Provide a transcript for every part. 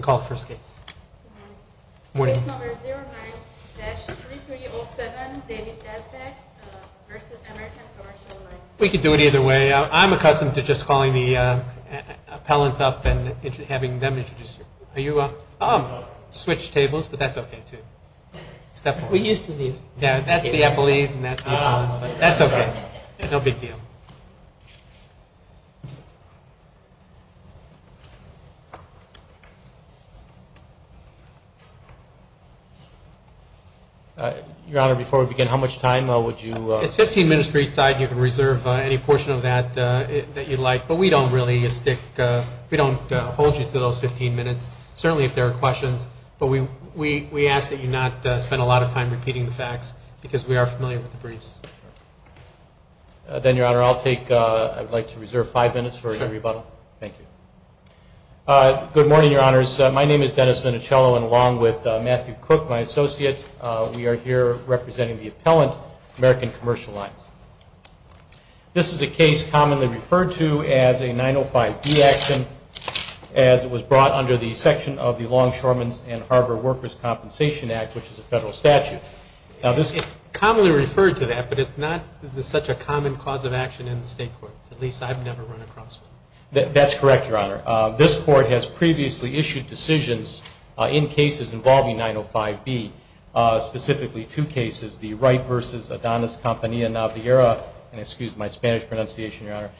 Case number 09-3307, David Dazbach v. American Commercial Lines, LLC Your Honor, before we begin, how much time would you... It's 15 minutes for each side, and you can reserve any portion of that that you'd like, but we don't really stick... we don't hold you to those 15 minutes, certainly if there are questions, but we ask that you not spend a lot of time repeating the facts, because we are familiar with the briefs. Then, Your Honor, I'll take... I'd like to reserve five minutes for any rebuttal. Thank you. Good morning, Your Honors. My name is Dennis Minichiello, and along with Matthew Cook, my associate, we are here representing the appellant, American Commercial Lines. This is a case commonly referred to as a 905B action, as it was brought under the section of the Longshoremen's and Harbor Workers' Compensation Act, which is a federal statute. It's commonly referred to that, but it's not such a common cause of action in the state courts. At least, I've never run across one. That's correct, Your Honor. This Court has previously issued decisions in cases involving 905B, specifically two cases, the Wright v. Adonis Campanilla-Navarro, and excuse my Spanish pronunciation, Your Honor,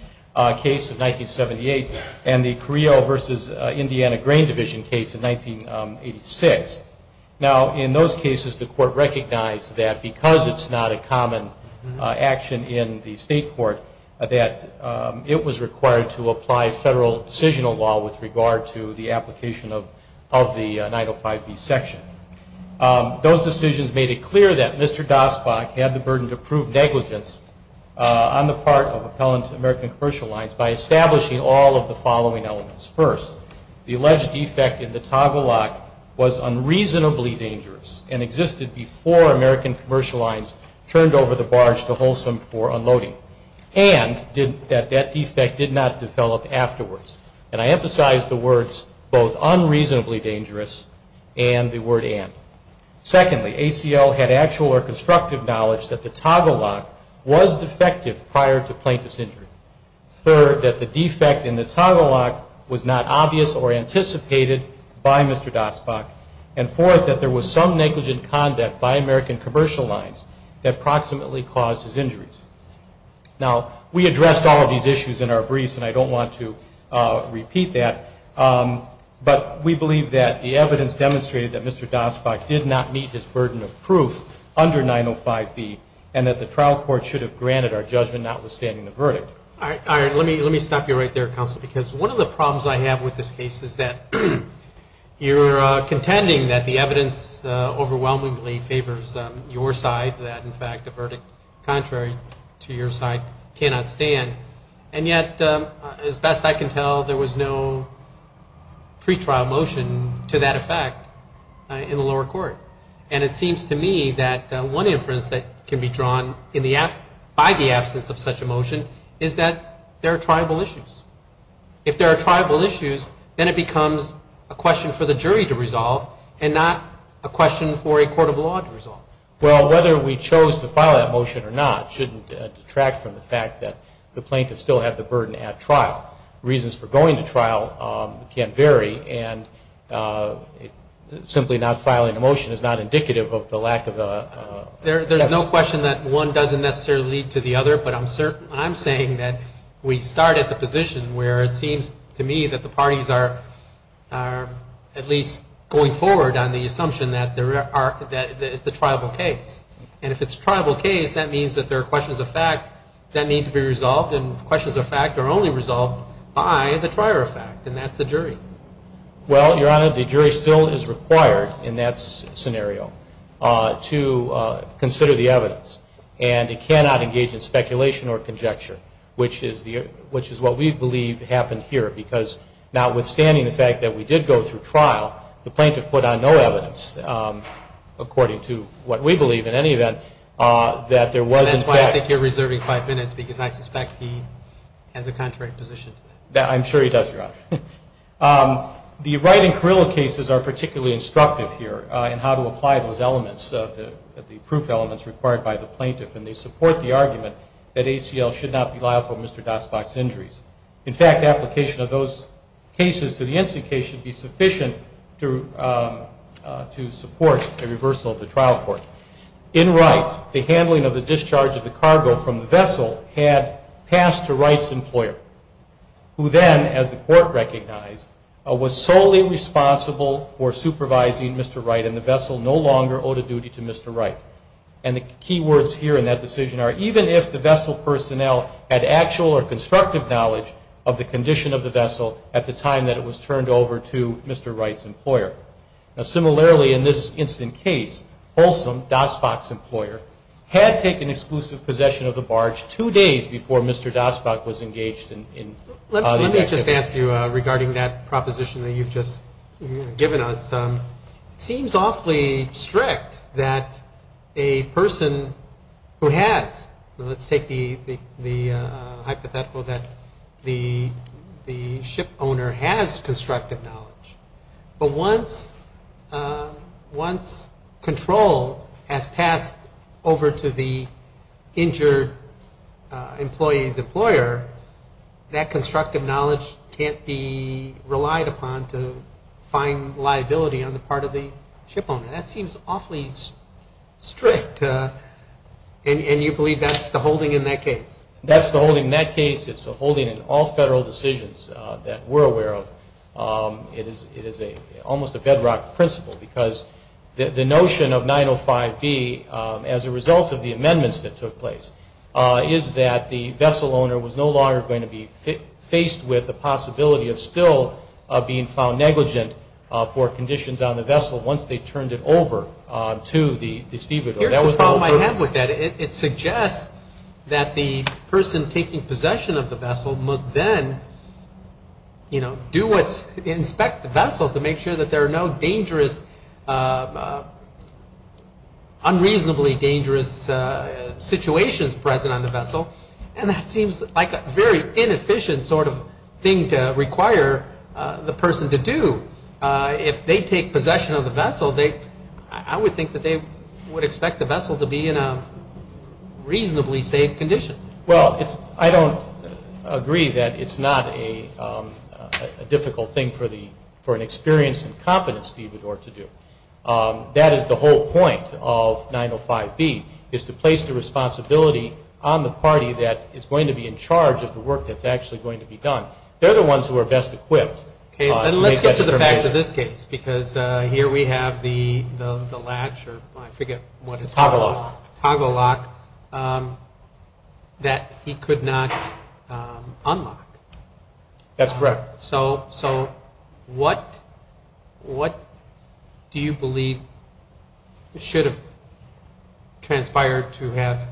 case of 1978, and the Carrillo v. Indiana Grain Division case of 1986. Now, in those cases, the Court recognized that because it's not a common action in the state court, that it was required to apply federal decisional law with regard to the application of the 905B section. Those decisions made it clear that Mr. Dostbach had the burden to prove negligence on the part of appellant, American Commercial Lines, by establishing all of the following elements. First, the alleged defect in the toggle lock was unreasonably dangerous and existed before American Commercial Lines turned over the barge to Wholesome for unloading, and that that defect did not develop afterwards. And I emphasize the words both unreasonably dangerous and the word and. Secondly, ACL had actual or constructive knowledge that the toggle lock was defective prior to plaintiff's injury. Third, that the defect in the toggle lock was not obvious or anticipated by Mr. Dostbach. And fourth, that there was some negligent conduct by American Commercial Lines that approximately caused his injuries. Now, we addressed all of these issues in our briefs, and I don't want to repeat that, but we believe that the evidence demonstrated that Mr. Dostbach did not meet his burden of proof under 905B and that the trial court should have granted our judgment notwithstanding the verdict. All right. Let me stop you right there, counsel, because one of the problems I have with this case is that you're contending that the evidence overwhelmingly favors your side, that, in fact, the verdict contrary to your side cannot stand. And yet, as best I can tell, there was no pretrial motion to that effect in the lower court. And it seems to me that one inference that can be drawn by the absence of such a motion is that there are triable issues. If there are triable issues, then it becomes a question for the jury to resolve and not a question for a court of law to resolve. Well, whether we chose to file that motion or not shouldn't detract from the fact that the plaintiff still had the burden at trial. Reasons for going to trial can vary. And simply not filing a motion is not indicative of the lack of evidence. There's no question that one doesn't necessarily lead to the other, but I'm saying that we start at the position where it seems to me that the parties are at least going forward on the assumption that it's a triable case. And if it's a triable case, that means that there are questions of fact that need to be resolved, and questions of fact are only resolved by the trier of fact, and that's the jury. Well, Your Honor, the jury still is required in that scenario to consider the evidence. And it cannot engage in speculation or conjecture, which is what we believe happened here, because notwithstanding the fact that we did go through trial, the plaintiff put on no evidence, according to what we believe in any event, that there was in fact – has a contrary position to that. I'm sure he does, Your Honor. The Wright and Carrillo cases are particularly instructive here in how to apply those elements, the proof elements required by the plaintiff, and they support the argument that ACL should not be liable for Mr. Dasbach's injuries. In fact, application of those cases to the NC case should be sufficient to support a reversal of the trial court. In Wright, the handling of the discharge of the cargo from the vessel had passed to Wright's employer, who then, as the court recognized, was solely responsible for supervising Mr. Wright, and the vessel no longer owed a duty to Mr. Wright. And the key words here in that decision are, even if the vessel personnel had actual or constructive knowledge of the condition of the vessel at the time that it was turned over to Mr. Wright's employer. Now, similarly, in this incident case, Folsom, Dasbach's employer, had taken exclusive possession of the barge two days before Mr. Dasbach was engaged in – Let me just ask you regarding that proposition that you've just given us. It seems awfully strict that a person who has – let's take the hypothetical that the ship owner has constructive knowledge. But once control has passed over to the injured employee's employer, that constructive knowledge can't be relied upon to find liability on the part of the ship owner. That seems awfully strict, and you believe that's the holding in that case? That's the holding in that case. It's the holding in all federal decisions that we're aware of. It is almost a bedrock principle because the notion of 905B, as a result of the amendments that took place, is that the vessel owner was no longer going to be faced with the possibility of still being found negligent for conditions on the vessel once they turned it over to the stevedore. Here's the problem I have with that. It suggests that the person taking possession of the vessel must then do what's – inspect the vessel to make sure that there are no dangerous – unreasonably dangerous situations present on the vessel, and that seems like a very inefficient sort of thing to require the person to do. If they take possession of the vessel, I would think that they would expect the vessel to be in a reasonably safe condition. Well, I don't agree that it's not a difficult thing for an experienced and competent stevedore to do. That is the whole point of 905B, is to place the responsibility on the party that is going to be in charge of the work that's actually going to be done. They're the ones who are best equipped. Let's get to the facts of this case because here we have the latch, or I forget what it's called. Toggle lock. Toggle lock that he could not unlock. That's correct. So what do you believe should have transpired to have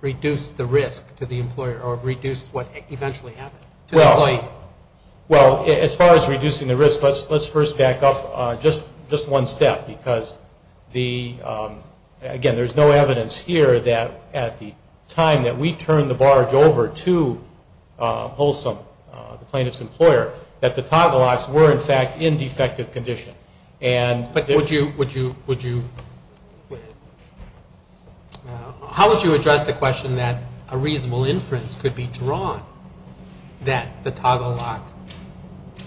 reduced the risk to the employer or reduced what eventually happened to the employee? Well, as far as reducing the risk, let's first back up just one step because, again, there's no evidence here that at the time that we turned the barge over to Holsom, the plaintiff's employer, that the toggle locks were, in fact, in defective condition. But would you – how would you address the question that a reasonable inference could be drawn that the toggle lock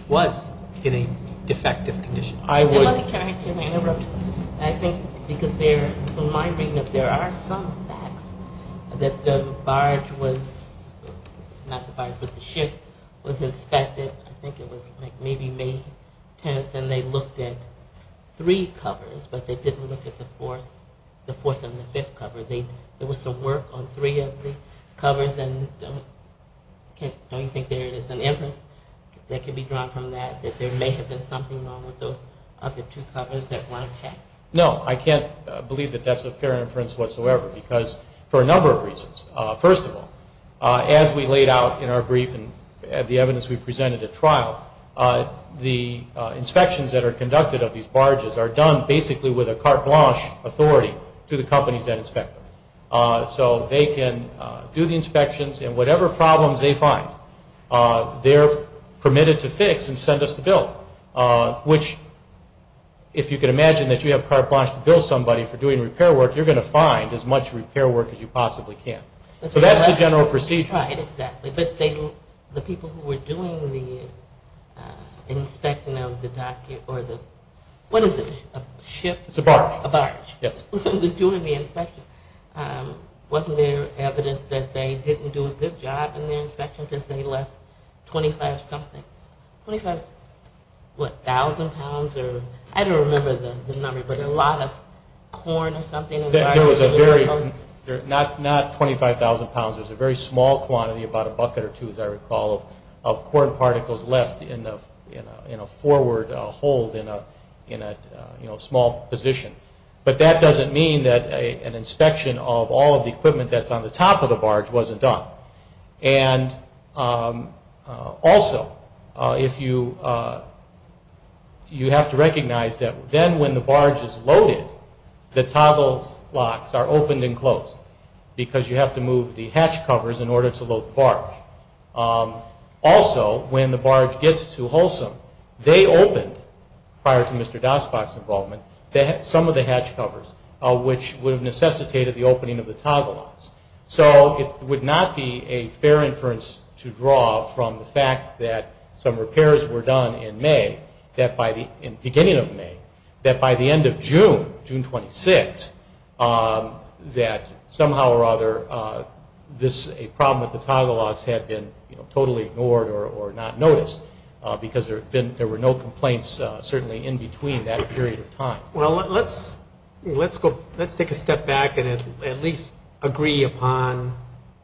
was in a defective condition? I would – Can I interrupt? I think because there – from my reading of it, there are some facts that the barge was – not the barge, but the ship was inspected. I think it was like maybe May 10th, and they looked at three covers, but they didn't look at the fourth and the fifth cover. There was some work on three of the covers, and don't you think there is an inference that could be drawn from that, that there may have been something wrong with those other two covers that weren't checked? No, I can't believe that that's a fair inference whatsoever because for a number of reasons. First of all, as we laid out in our brief and the evidence we presented at trial, the inspections that are conducted of these barges are done basically with a carte blanche authority to the companies that inspect them. So they can do the inspections, and whatever problems they find, they're permitted to fix and send us the bill, which if you can imagine that you have carte blanche to bill somebody for doing repair work, you're going to find as much repair work as you possibly can. So that's the general procedure. Right, exactly. But the people who were doing the inspecting of the dock or the – what is it, a ship? It's a barge. A barge. Yes. During the inspection, wasn't there evidence that they didn't do a good job in the inspection because they left 25-something, 25, what, thousand pounds or – I don't remember the number, but a lot of corn or something. There was a very – not 25,000 pounds. It was a very small quantity, about a bucket or two as I recall, of corn particles left in a forward hold in a small position. But that doesn't mean that an inspection of all of the equipment that's on the top of the barge wasn't done. And also, if you – you have to recognize that then when the barge is loaded, the toggle locks are opened and closed because you have to move the hatch covers in order to load the barge. Also, when the barge gets to Holsom, they opened, prior to Mr. Dasbach's involvement, some of the hatch covers, which would have necessitated the opening of the toggle locks. So it would not be a fair inference to draw from the fact that some repairs were done in May, that by the – in the beginning of May, that by the end of June, June 26, that somehow or other this – a problem with the toggle locks had been, you know, totally ignored or not noticed because there had been – there were no complaints certainly in between that period of time. Well, let's go – let's take a step back and at least agree upon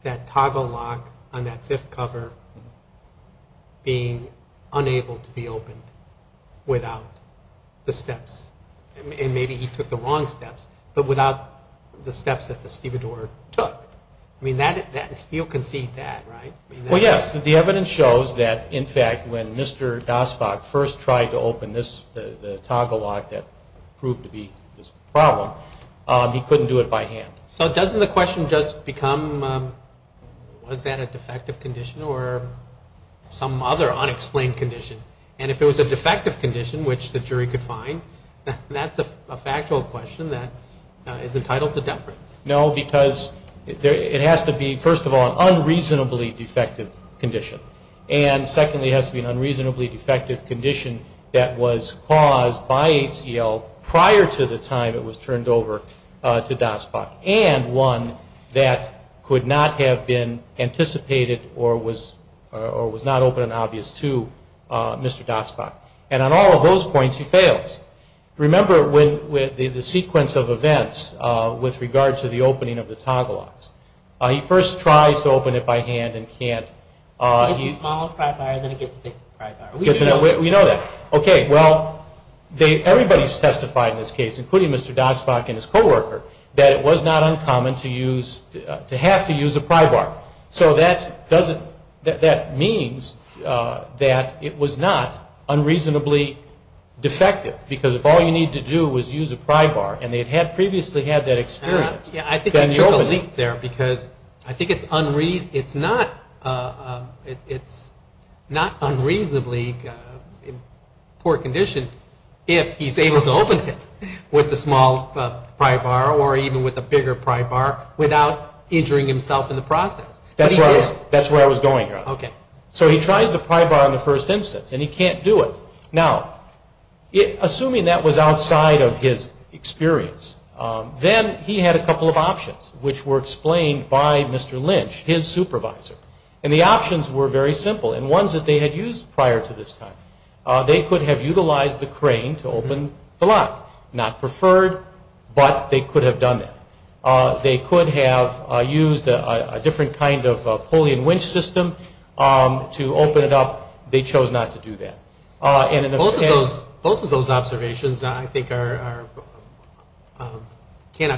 that toggle lock on that fifth cover being unable to be opened without the steps. And maybe he took the wrong steps, but without the steps that the stevedore took. I mean, that – you'll concede that, right? Well, yes. The evidence shows that, in fact, when Mr. Dasbach first tried to open this – the toggle lock that proved to be this problem, he couldn't do it by hand. So doesn't the question just become, was that a defective condition or some other unexplained condition? And if it was a defective condition, which the jury could find, that's a factual question that is entitled to deference. No, because it has to be, first of all, an unreasonably defective condition. And secondly, it has to be an unreasonably defective condition that was caused by ACL prior to the time it was turned over to Dasbach and one that could not have been anticipated or was not open and obvious to Mr. Dasbach. And on all of those points, he fails. Remember the sequence of events with regard to the opening of the toggle locks. He first tries to open it by hand and can't. It's a small pry bar, then it gets a big pry bar. We know that. Okay, well, everybody's testified in this case, including Mr. Dasbach and his co-worker, that it was not uncommon to have to use a pry bar. So that means that it was not unreasonably defective, because if all you need to do is use a pry bar, and they had previously had that experience. Yeah, I think I took a leap there, because I think it's not unreasonably poor condition if he's able to open it with a small pry bar or even with a bigger pry bar without injuring himself in the process. That's where I was going. So he tries the pry bar in the first instance, and he can't do it. Now, assuming that was outside of his experience, then he had a couple of options, which were explained by Mr. Lynch, his supervisor. And the options were very simple, and ones that they had used prior to this time. They could have utilized the crane to open the lock. Not preferred, but they could have done that. They could have used a different kind of pulley and winch system to open it up. They chose not to do that. Both of those observations, I think, cannot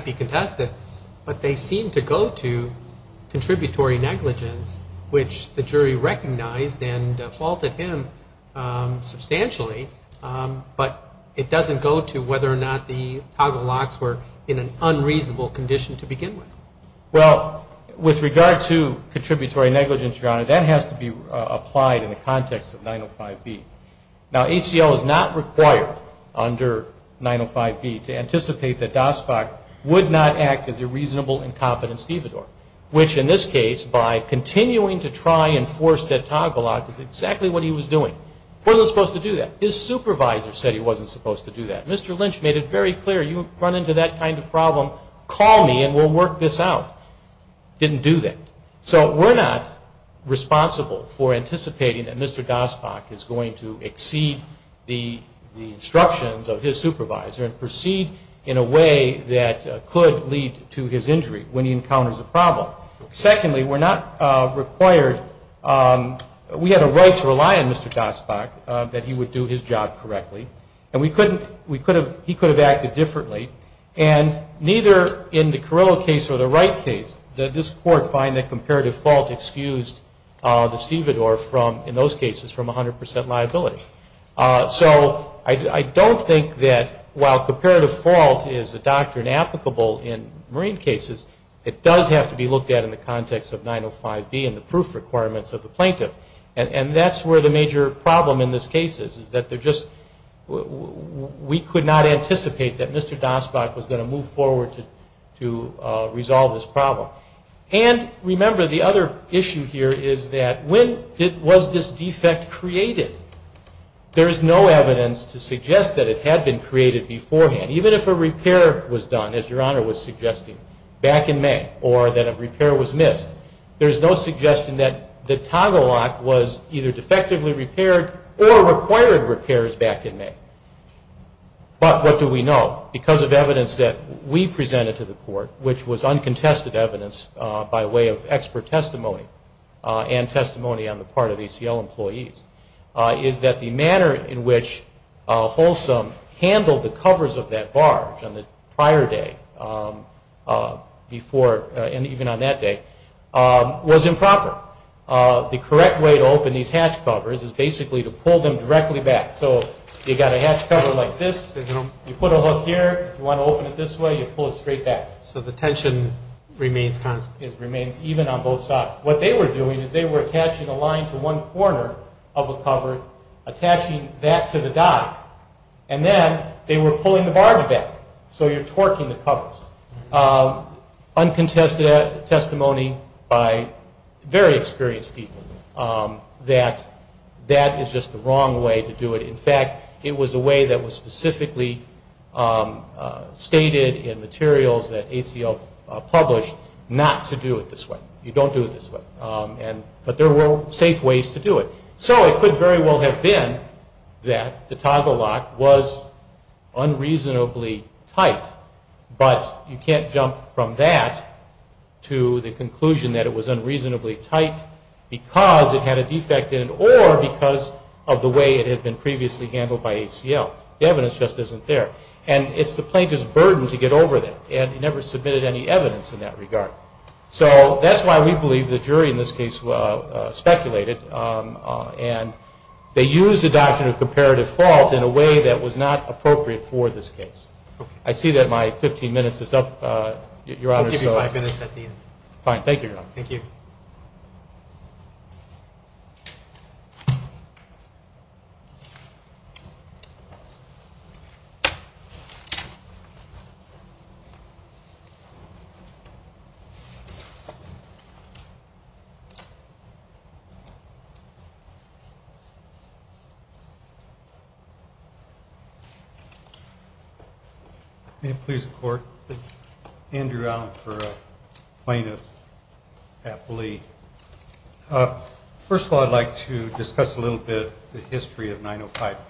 be contested, but they seem to go to contributory negligence, which the jury recognized and faulted him substantially. But it doesn't go to whether or not the toggle locks were in an unreasonable condition to begin with. Well, with regard to contributory negligence, Your Honor, that has to be applied in the context of 905B. Now, ACL is not required under 905B to anticipate that Dostok would not act as a reasonable, incompetent stevedore, which in this case, by continuing to try and force that toggle lock, is exactly what he was doing. He wasn't supposed to do that. His supervisor said he wasn't supposed to do that. Mr. Lynch made it very clear, you run into that kind of problem, call me and we'll work this out. Didn't do that. So we're not responsible for anticipating that Mr. Dostok is going to exceed the instructions of his supervisor and proceed in a way that could lead to his injury when he encounters a problem. Secondly, we're not required, we had a right to rely on Mr. Dostok that he would do his job correctly, and he could have acted differently, and neither in the Carrillo case or the Wright case did this court find that comparative fault excused the stevedore from, in those cases, from 100% liability. So I don't think that while comparative fault is a doctrine applicable in marine cases, it does have to be looked at in the context of 905B and the proof requirements of the plaintiff, and that's where the major problem in this case is, that we could not anticipate that Mr. Dostok was going to move forward to resolve this problem. And remember, the other issue here is that when was this defect created? There is no evidence to suggest that it had been created beforehand. Even if a repair was done, as Your Honor was suggesting, back in May, or that a repair was missed, there is no suggestion that the toggle lock was either defectively repaired or required repairs back in May. But what do we know? Because of evidence that we presented to the court, which was uncontested evidence by way of expert testimony and testimony on the part of ACL employees, is that the manner in which Holsom handled the covers of that barge on the prior day before, and even on that day, was improper. The correct way to open these hatch covers is basically to pull them directly back. So you've got a hatch cover like this. You put a hook here. If you want to open it this way, you pull it straight back. So the tension remains constant. It remains even on both sides. What they were doing is they were attaching a line to one corner of a cover, attaching that to the dock, and then they were pulling the barge back. So you're torquing the covers. Uncontested testimony by very experienced people that that is just the wrong way to do it. In fact, it was a way that was specifically stated in materials that ACL published not to do it this way. You don't do it this way. But there were safe ways to do it. So it could very well have been that the toggle lock was unreasonably tight, but you can't jump from that to the conclusion that it was unreasonably tight because it had a defect in it or because of the way it had been previously handled by ACL. The evidence just isn't there. And it's the plaintiff's burden to get over that, and he never submitted any evidence in that regard. So that's why we believe the jury in this case speculated, and they used the doctrine of comparative fault in a way that was not appropriate for this case. I see that my 15 minutes is up, Your Honor. I'll give you five minutes at the end. Fine. Thank you, Your Honor. Thank you. Thank you. May it please the Court, Andrew Allen for a Plaintiff's Appellee. First of all, I'd like to discuss a little bit the history of 905B.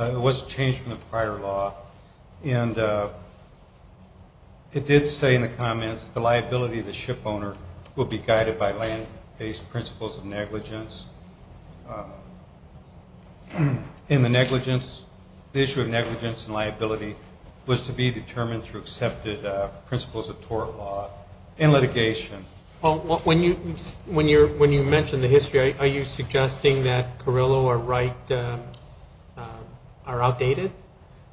It was changed from the prior law. And it did say in the comments the liability of the shipowner will be guided by land-based principles of negligence. And the issue of negligence and liability was to be determined through accepted principles of tort law and litigation. When you mention the history, are you suggesting that Carrillo or Wright are outdated?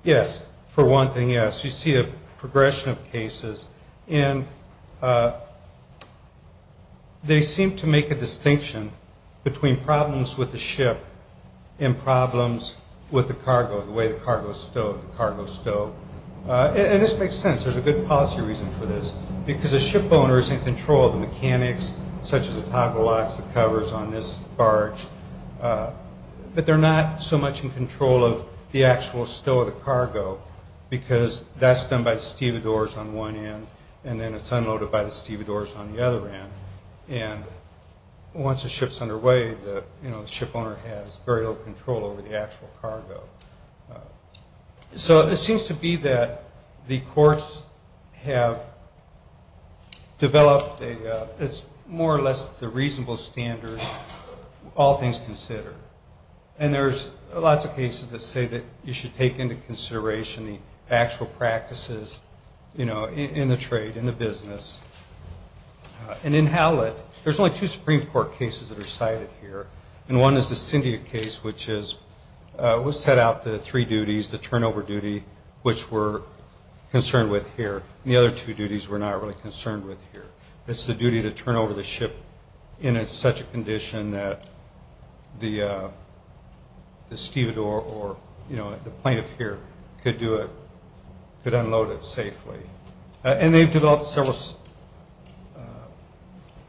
Yes. For one thing, yes. You see a progression of cases, and they seem to make a distinction between problems with the ship and problems with the cargo, the way the cargo is stowed, the cargo stowed. And this makes sense. There's a good policy reason for this, because the shipowner is in control of the mechanics, such as the toggle locks, the covers on this barge. But they're not so much in control of the actual stow of the cargo, because that's done by the stevedores on one end, and then it's unloaded by the stevedores on the other end. And once the ship's underway, the shipowner has very little control over the actual cargo. So it seems to be that the courts have developed more or less the reasonable standard, all things considered. And there's lots of cases that say that you should take into consideration the actual practices, you know, in the trade, in the business. And in Hallett, there's only two Supreme Court cases that are cited here, and one is the Cyndia case, which set out the three duties, the turnover duty, which we're concerned with here, and the other two duties we're not really concerned with here. It's the duty to turn over the ship in such a condition that the stevedore or, you know, the plaintiff here could unload it safely. And they've developed several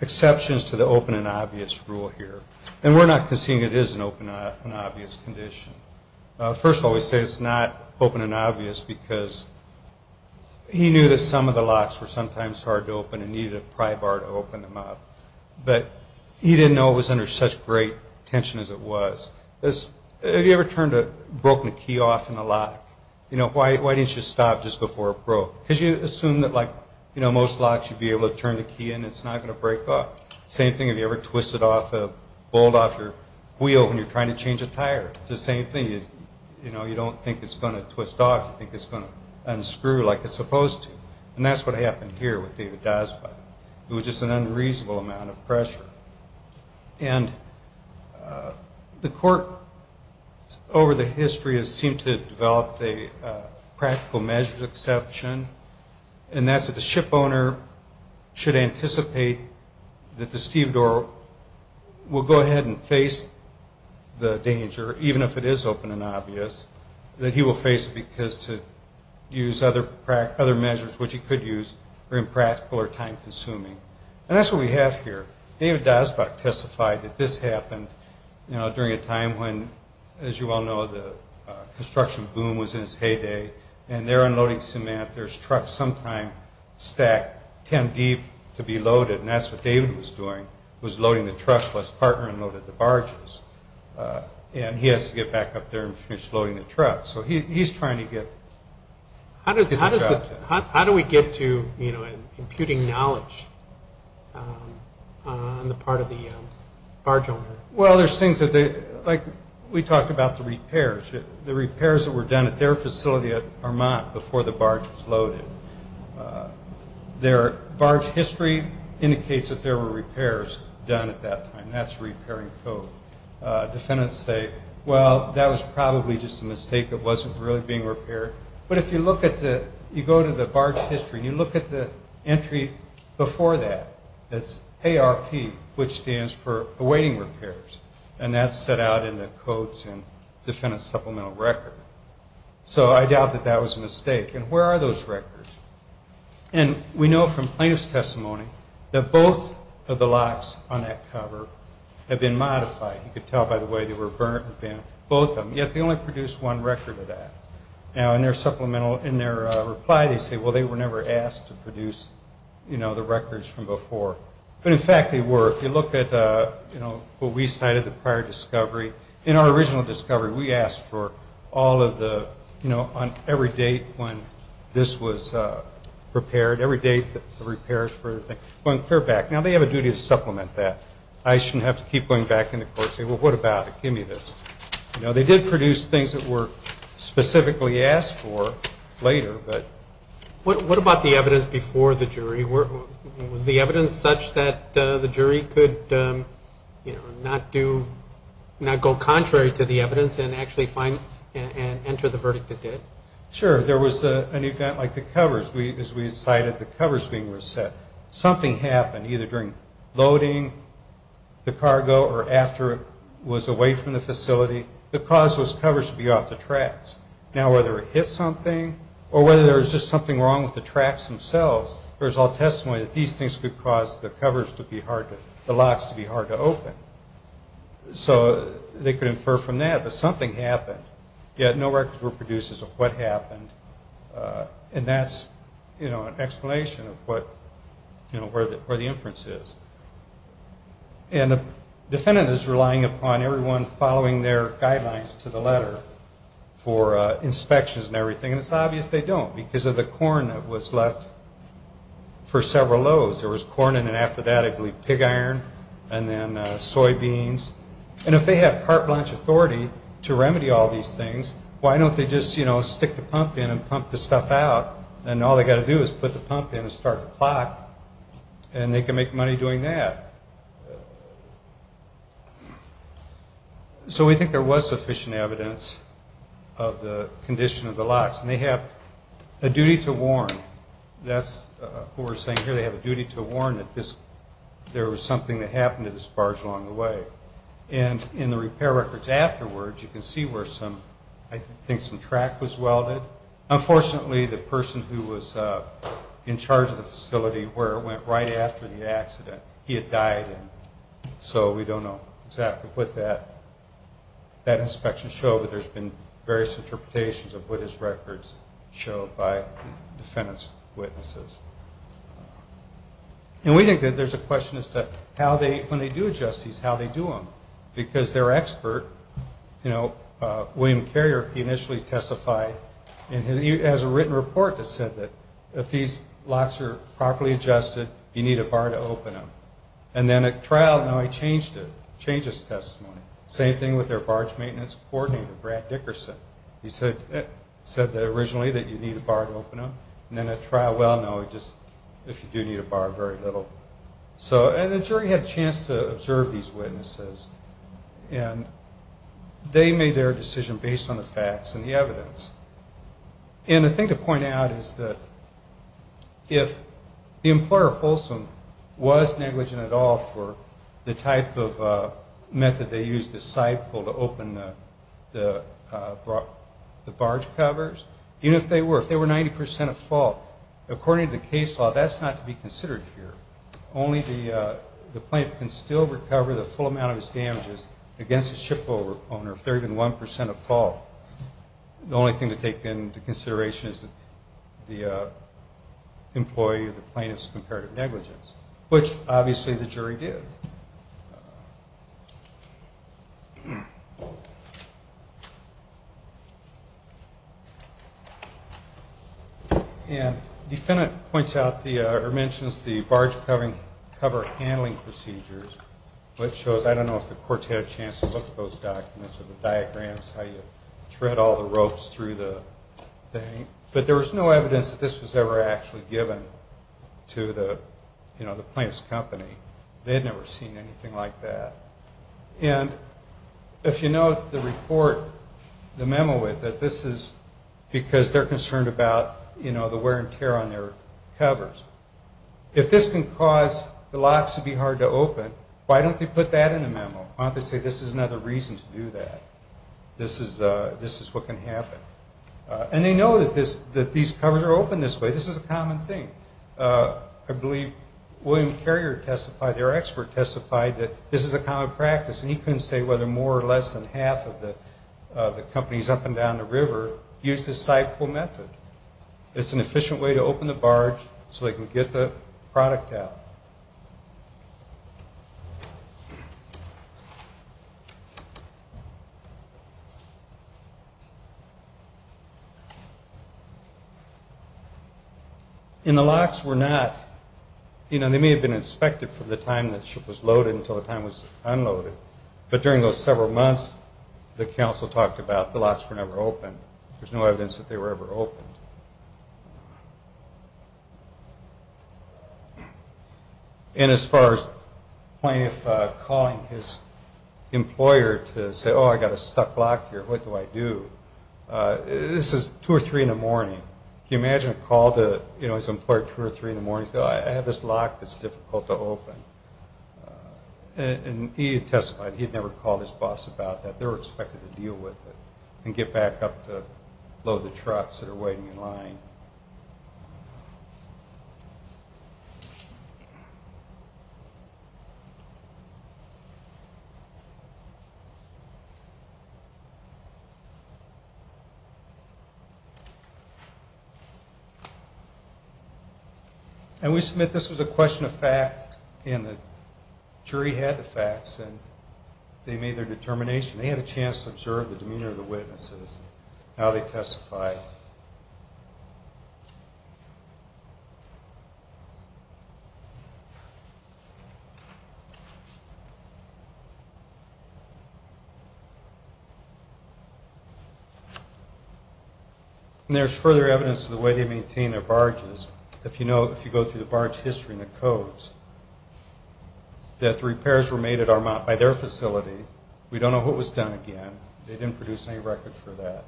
exceptions to the open and obvious rule here, and we're not conceding it is an open and obvious condition. First of all, we say it's not open and obvious because he knew that some of the locks were sometimes hard to open and needed a pry bar to open them up, but he didn't know it was under such great tension as it was. Have you ever broken a key off in a lock? You know, why didn't you stop just before it broke? Because you assume that, like, you know, most locks, you'd be able to turn the key in and it's not going to break off. Same thing if you ever twist a bolt off your wheel when you're trying to change a tire. It's the same thing. You know, you don't think it's going to twist off. You think it's going to unscrew like it's supposed to. And that's what happened here with David Dyspot. It was just an unreasonable amount of pressure. And the court over the history has seemed to have developed a practical measures exception, and that's that the shipowner should anticipate that the stevedore will go ahead and face the danger, even if it is open and obvious, that he will face it because to use other measures, which he could use, are impractical or time-consuming. And that's what we have here. David Dyspot testified that this happened, you know, during a time when, as you all know, the construction boom was in its heyday, and they're unloading cement. There's trucks sometime stacked 10 deep to be loaded, and that's what David was doing, was loading the trucks while his partner unloaded the barges. And he has to get back up there and finish loading the trucks. So he's trying to get the job done. How do we get to, you know, imputing knowledge on the part of the barge owner? Well, there's things that they – like we talked about the repairs. The repairs that were done at their facility at Vermont before the barge was loaded, their barge history indicates that there were repairs done at that time. That's repairing code. Defendants say, well, that was probably just a mistake. It wasn't really being repaired. But if you look at the – you go to the barge history. You look at the entry before that. That's ARP, which stands for awaiting repairs. And that's set out in the codes in defendant's supplemental record. So I doubt that that was a mistake. And where are those records? And we know from plaintiff's testimony that both of the locks on that cover have been modified. You can tell by the way they were burnt and bent, both of them. Yet they only produced one record of that. Now, in their supplemental – in their reply, they say, well, they were never asked to produce, you know, the records from before. But, in fact, they were. If you look at, you know, what we cited, the prior discovery, in our original discovery, we asked for all of the – you know, on every date when this was repaired, every date the repairs were – going clear back. Now, they have a duty to supplement that. I shouldn't have to keep going back in the court and say, well, what about it? Give me this. You know, they did produce things that were specifically asked for later. What about the evidence before the jury? Was the evidence such that the jury could, you know, not do – not go contrary to the evidence and actually find and enter the verdict it did? Sure. There was an event like the covers. As we cited, the covers being reset. Something happened either during loading the cargo or after it was away from the facility that caused those covers to be off the tracks. Now, whether it hit something or whether there was just something wrong with the tracks themselves, there's all testimony that these things could cause the covers to be hard to – the locks to be hard to open. So they could infer from that that something happened, yet no records were produced as of what happened. And that's, you know, an explanation of what – you know, where the inference is. And the defendant is relying upon everyone following their guidelines to the letter for inspections and everything, and it's obvious they don't because of the corn that was left for several loads. There was corn and then after that I believe pig iron and then soybeans. And if they have carte blanche authority to remedy all these things, why don't they just, you know, stick the pump in and pump the stuff out and all they've got to do is put the pump in and start the clock and they can make money doing that. So we think there was sufficient evidence of the condition of the locks. And they have a duty to warn. That's what we're saying here. They have a duty to warn that there was something that happened to this barge along the way. And in the repair records afterwards, you can see where some – I think some track was welded. Unfortunately, the person who was in charge of the facility where it went right after the accident, he had died. So we don't know exactly what that inspection showed, but there's been various interpretations of what his records showed by defendant's witnesses. And we think that there's a question as to how they – when they do adjust these, how they do them, because their expert, you know, William Carrier, he initially testified in his – he has a written report that said that if these locks are properly adjusted, you need a bar to open them. And then at trial, no, he changed it, changed his testimony. Same thing with their barge maintenance coordinator, Brad Dickerson. He said that originally that you need a bar to open them. And then at trial, well, no, just if you do need a bar, very little. So – and the jury had a chance to observe these witnesses, and they made their decision based on the facts and the evidence. And the thing to point out is that if the employer at Folsom was negligent at all for the type of method they used, the side pull to open the barge covers, even if they were, if they were 90 percent at fault, according to the case law, that's not to be considered here. Only the plaintiff can still recover the full amount of his damages against the shipowner if they're even 1 percent at fault. The only thing to take into consideration is the employee or the plaintiff's comparative negligence, which obviously the jury did. And the defendant points out or mentions the barge cover handling procedures, which shows – I don't know if the courts had a chance to look at those documents or the diagrams, how you thread all the ropes through the thing, but there was no evidence that this was ever actually given to the plaintiff's company. They had never seen anything like that. And if you note the report, the memo with it, this is because they're concerned about, you know, the wear and tear on their covers. If this can cause the locks to be hard to open, why don't they put that in the memo? Why don't they say this is another reason to do that? This is what can happen. And they know that these covers are open this way. This is a common thing. I believe William Carrier testified, their expert testified, that this is a common practice, and he couldn't say whether more or less than half of the companies up and down the river use this side-pull method. It's an efficient way to open the barge so they can get the product out. In the locks were not, you know, they may have been inspected for the time that the ship was loaded until the time it was unloaded, but during those several months, the counsel talked about the locks were never open. There's no evidence that they were ever opened. And as far as Plaintiff calling his employer to say, oh, I've got a stuck lock here, what do I do? This is two or three in the morning. Can you imagine a call to, you know, his employer at two or three in the morning, saying, I have this lock that's difficult to open? And he testified he'd never called his boss about that. They were expected to deal with it and get back up to load the trucks that are waiting in line. And we submit this was a question of fact, and the jury had the facts, and they made their determination. They had a chance to observe the demeanor of the witnesses, and now they testify. And there's further evidence of the way they maintain their barges. If you go through the barge history and the codes, that the repairs were made at Armat by their facility. We don't know what was done again. They didn't produce any records for that,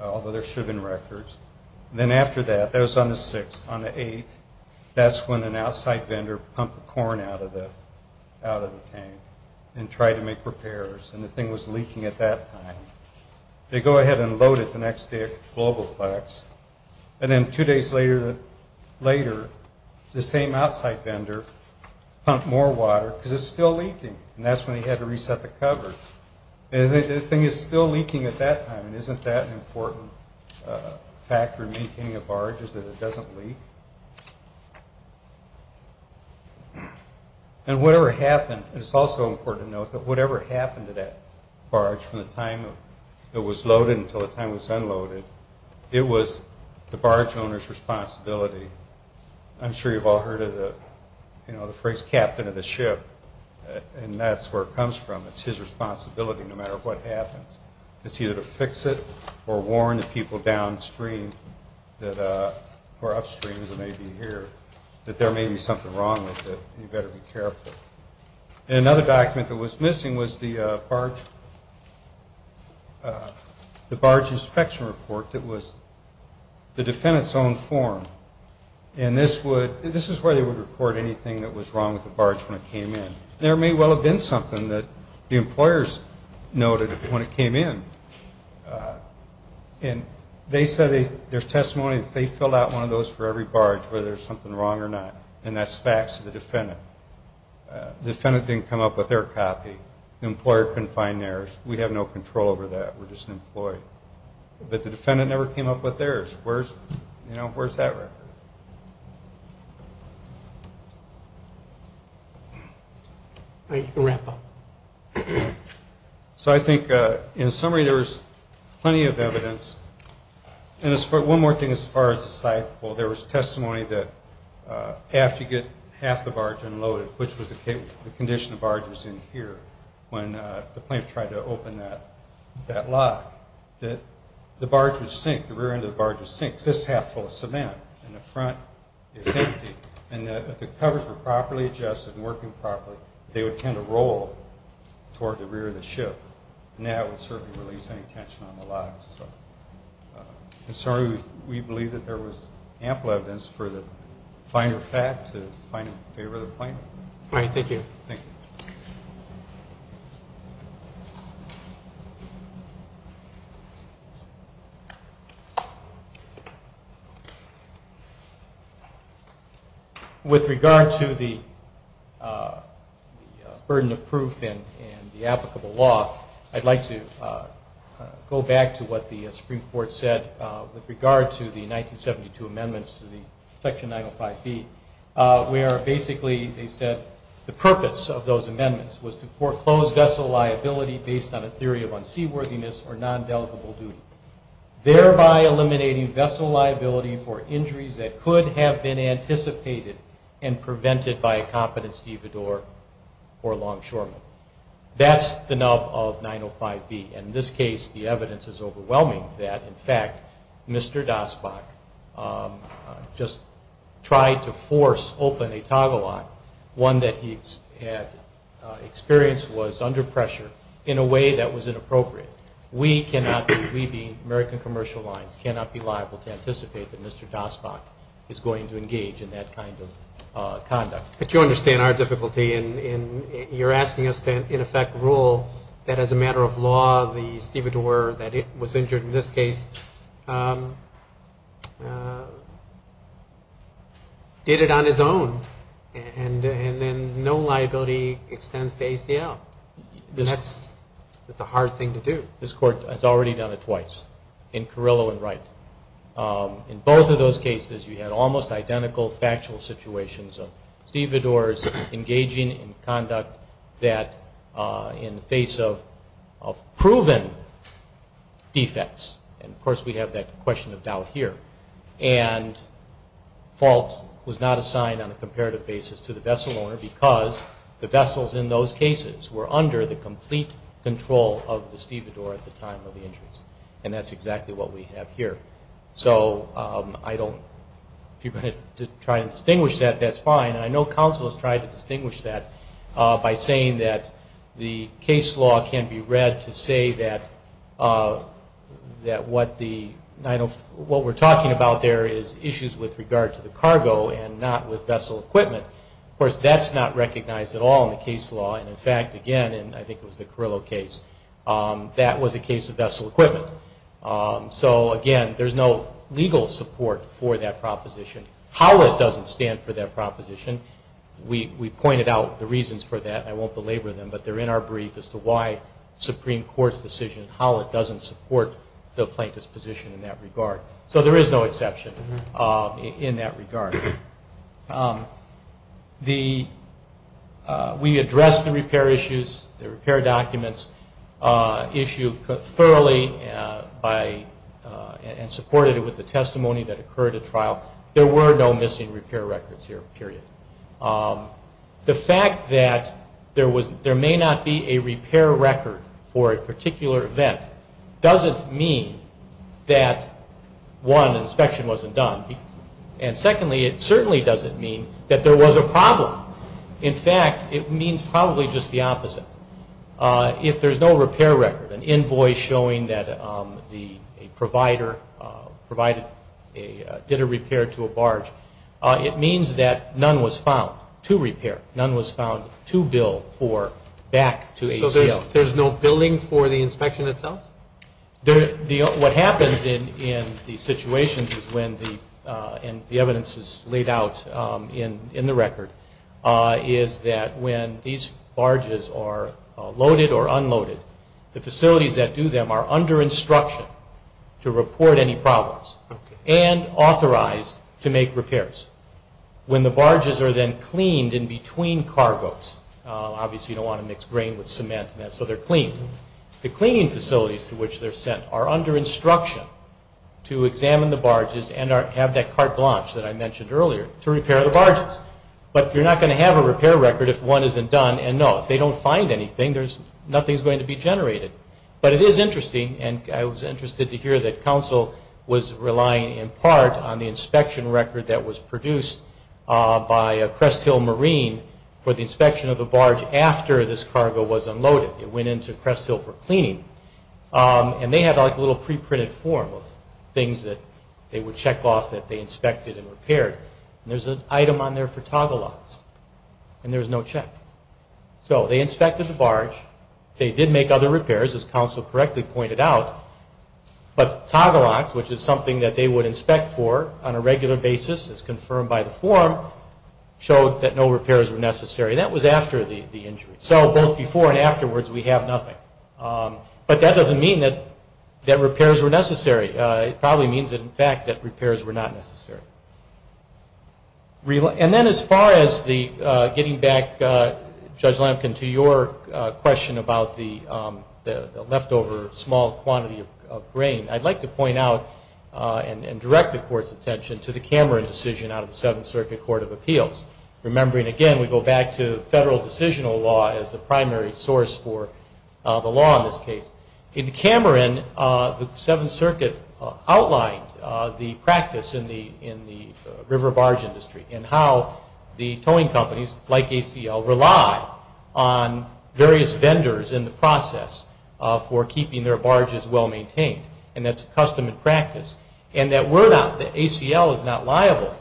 although there should have been records. And then after that, that was on the 6th. On the 8th, that's when an outside vendor pumped the corn out of the tank and tried to make repairs, and the thing was leaking at that time. They go ahead and load it the next day at Globalplex. And then two days later, the same outside vendor pumped more water, because it's still leaking, and that's when they had to reset the cover. And the thing is still leaking at that time, and isn't that an important factor in maintaining a barge is that it doesn't leak? And whatever happened, it's also important to note that whatever happened to that barge from the time it was loaded until the time it was unloaded, it was the barge owner's responsibility. I'm sure you've all heard of the phrase, captain of the ship, and that's where it comes from. It's his responsibility no matter what happens. It's either to fix it or warn the people downstream or upstream that may be here that there may be something wrong with it, and you better be careful. And another document that was missing was the barge inspection report that was the defendant's own form. And this is where they would report anything that was wrong with the barge when it came in. There may well have been something that the employers noted when it came in. And they said there's testimony that they filled out one of those for every barge whether there's something wrong or not, and that's facts of the defendant. The defendant didn't come up with their copy. The employer couldn't find theirs. We have no control over that. We're just an employee. But the defendant never came up with theirs. Where's that record? All right, you can wrap up. So I think in summary there was plenty of evidence. And one more thing as far as the site. Well, there was testimony that after you get half the barge unloaded, which was the condition the barge was in here when the plant tried to open that lock, that the barge would sink. The rear end of the barge would sink because this is half full of cement and the front is empty. And if the covers were properly adjusted and working properly, they would tend to roll toward the rear of the ship, and that would certainly release any tension on the locks. In summary, we believe that there was ample evidence for the finer fact to find in favor of the plaintiff. All right, thank you. Thank you. With regard to the burden of proof and the applicable law, I'd like to go back to what the Supreme Court said with regard to the 1972 amendments to the Section 905B, where basically they said the purpose of those amendments was to foreclose vessel liability based on a theory of unseaworthiness or non-delegable duty, thereby eliminating vessel liability for injuries that could have been anticipated and prevented by a competent stevedore or longshoreman. That's the nub of 905B. And in this case, the evidence is overwhelming that, in fact, Mr. Dasbach just tried to force open a toggle lock, one that he had experienced was under pressure in a way that was inappropriate. We cannot be, we being American Commercial Lines, cannot be liable to anticipate that Mr. Dasbach is going to engage in that kind of conduct. But you understand our difficulty in you're asking us to, in effect, rule that, as a matter of law, the stevedore that was injured in this case did it on his own and then no liability extends to ACL. That's a hard thing to do. This Court has already done it twice, in Carrillo and Wright. In both of those cases, you had almost identical factual situations of stevedores engaging in conduct that, in the face of proven defects, and, of course, we have that question of doubt here, and fault was not assigned on a comparative basis to the vessel owner because the vessels in those cases were under the complete control of the stevedore at the time of the injuries. And that's exactly what we have here. So I don't, if you're going to try to distinguish that, that's fine. I know counsel has tried to distinguish that by saying that the case law can be read to say that what we're talking about there is issues with regard to the cargo and not with vessel equipment. Of course, that's not recognized at all in the case law. And, in fact, again, and I think it was the Carrillo case, that was a case of vessel equipment. So, again, there's no legal support for that proposition. HOLLIT doesn't stand for that proposition. We pointed out the reasons for that, and I won't belabor them, but they're in our brief as to why Supreme Court's decision, HOLLIT doesn't support the plaintiff's position in that regard. So there is no exception in that regard. We addressed the repair issues, the repair documents issued thoroughly and supported it with the testimony that occurred at trial. There were no missing repair records here, period. The fact that there may not be a repair record for a particular event doesn't mean that, one, inspection wasn't done. And, secondly, it certainly doesn't mean that there was a problem. In fact, it means probably just the opposite. If there's no repair record, an invoice showing that a provider did a repair to a barge, it means that none was found to repair. None was found to bill for back to ACL. So there's no billing for the inspection itself? What happens in these situations is when the evidence is laid out in the record, is that when these barges are loaded or unloaded, the facilities that do them are under instruction to report any problems and authorized to make repairs. When the barges are then cleaned in between cargoes, obviously you don't want to mix grain with cement, so they're cleaned. The cleaning facilities to which they're sent are under instruction to examine the barges and have that carte blanche that I mentioned earlier to repair the barges. But you're not going to have a repair record if one isn't done. And, no, if they don't find anything, nothing's going to be generated. But it is interesting, and I was interested to hear, that counsel was relying in part on the inspection record that was produced by Crest Hill Marine for the inspection of the barge after this cargo was unloaded. It went into Crest Hill for cleaning. And they had a little pre-printed form of things that they would check off that they inspected and repaired. And there's an item on there for toggle locks, and there's no check. So they inspected the barge. They did make other repairs, as counsel correctly pointed out. But toggle locks, which is something that they would inspect for on a regular basis as confirmed by the form, showed that no repairs were necessary. That was after the injury. So both before and afterwards, we have nothing. But that doesn't mean that repairs were necessary. It probably means, in fact, that repairs were not necessary. And then as far as getting back, Judge Lampkin, to your question about the leftover small quantity of grain, I'd like to point out and direct the Court's attention to the Cameron decision out of the Seventh Circuit Court of Appeals, remembering, again, we go back to federal decisional law as the primary source for the law in this case. In Cameron, the Seventh Circuit outlined the practice in the river barge industry and how the towing companies, like ACL, rely on various vendors in the process for keeping their barges well-maintained. And that's custom and practice. And that we're not, that ACL is not liable,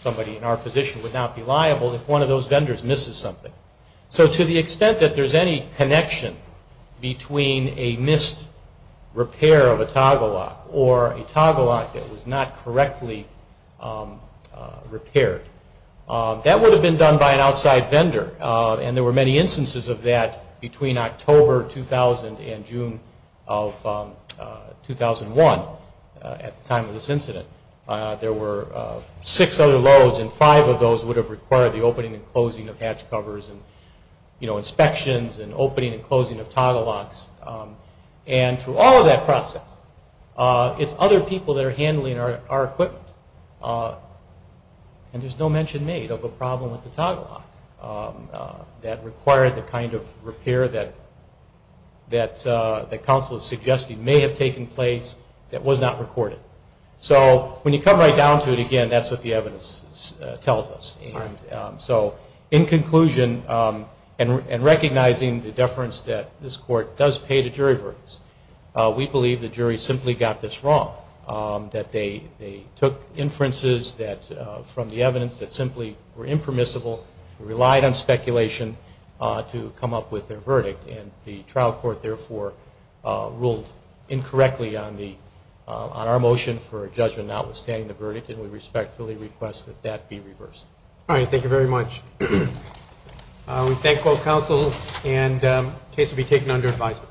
somebody in our position would not be liable if one of those vendors misses something. So to the extent that there's any connection between a missed repair of a toggle lock or a toggle lock that was not correctly repaired, that would have been done by an outside vendor. And there were many instances of that between October 2000 and June of 2001 at the time of this incident. There were six other loads, and five of those would have required the opening and closing of hatch covers and inspections and opening and closing of toggle locks. And through all of that process, it's other people that are handling our equipment. And there's no mention made of a problem with the toggle lock that required the kind of repair that counsel is suggesting may have taken place that was not recorded. So when you come right down to it again, that's what the evidence tells us. So in conclusion, and recognizing the deference that this court does pay to jury verdicts, we believe the jury simply got this wrong, that they took inferences from the evidence that simply were impermissible, relied on speculation to come up with their verdict. And the trial court, therefore, ruled incorrectly on our motion for judgment notwithstanding the verdict, and we respectfully request that that be reversed. All right. Thank you very much. We thank both counsel, and the case will be taken under advisement.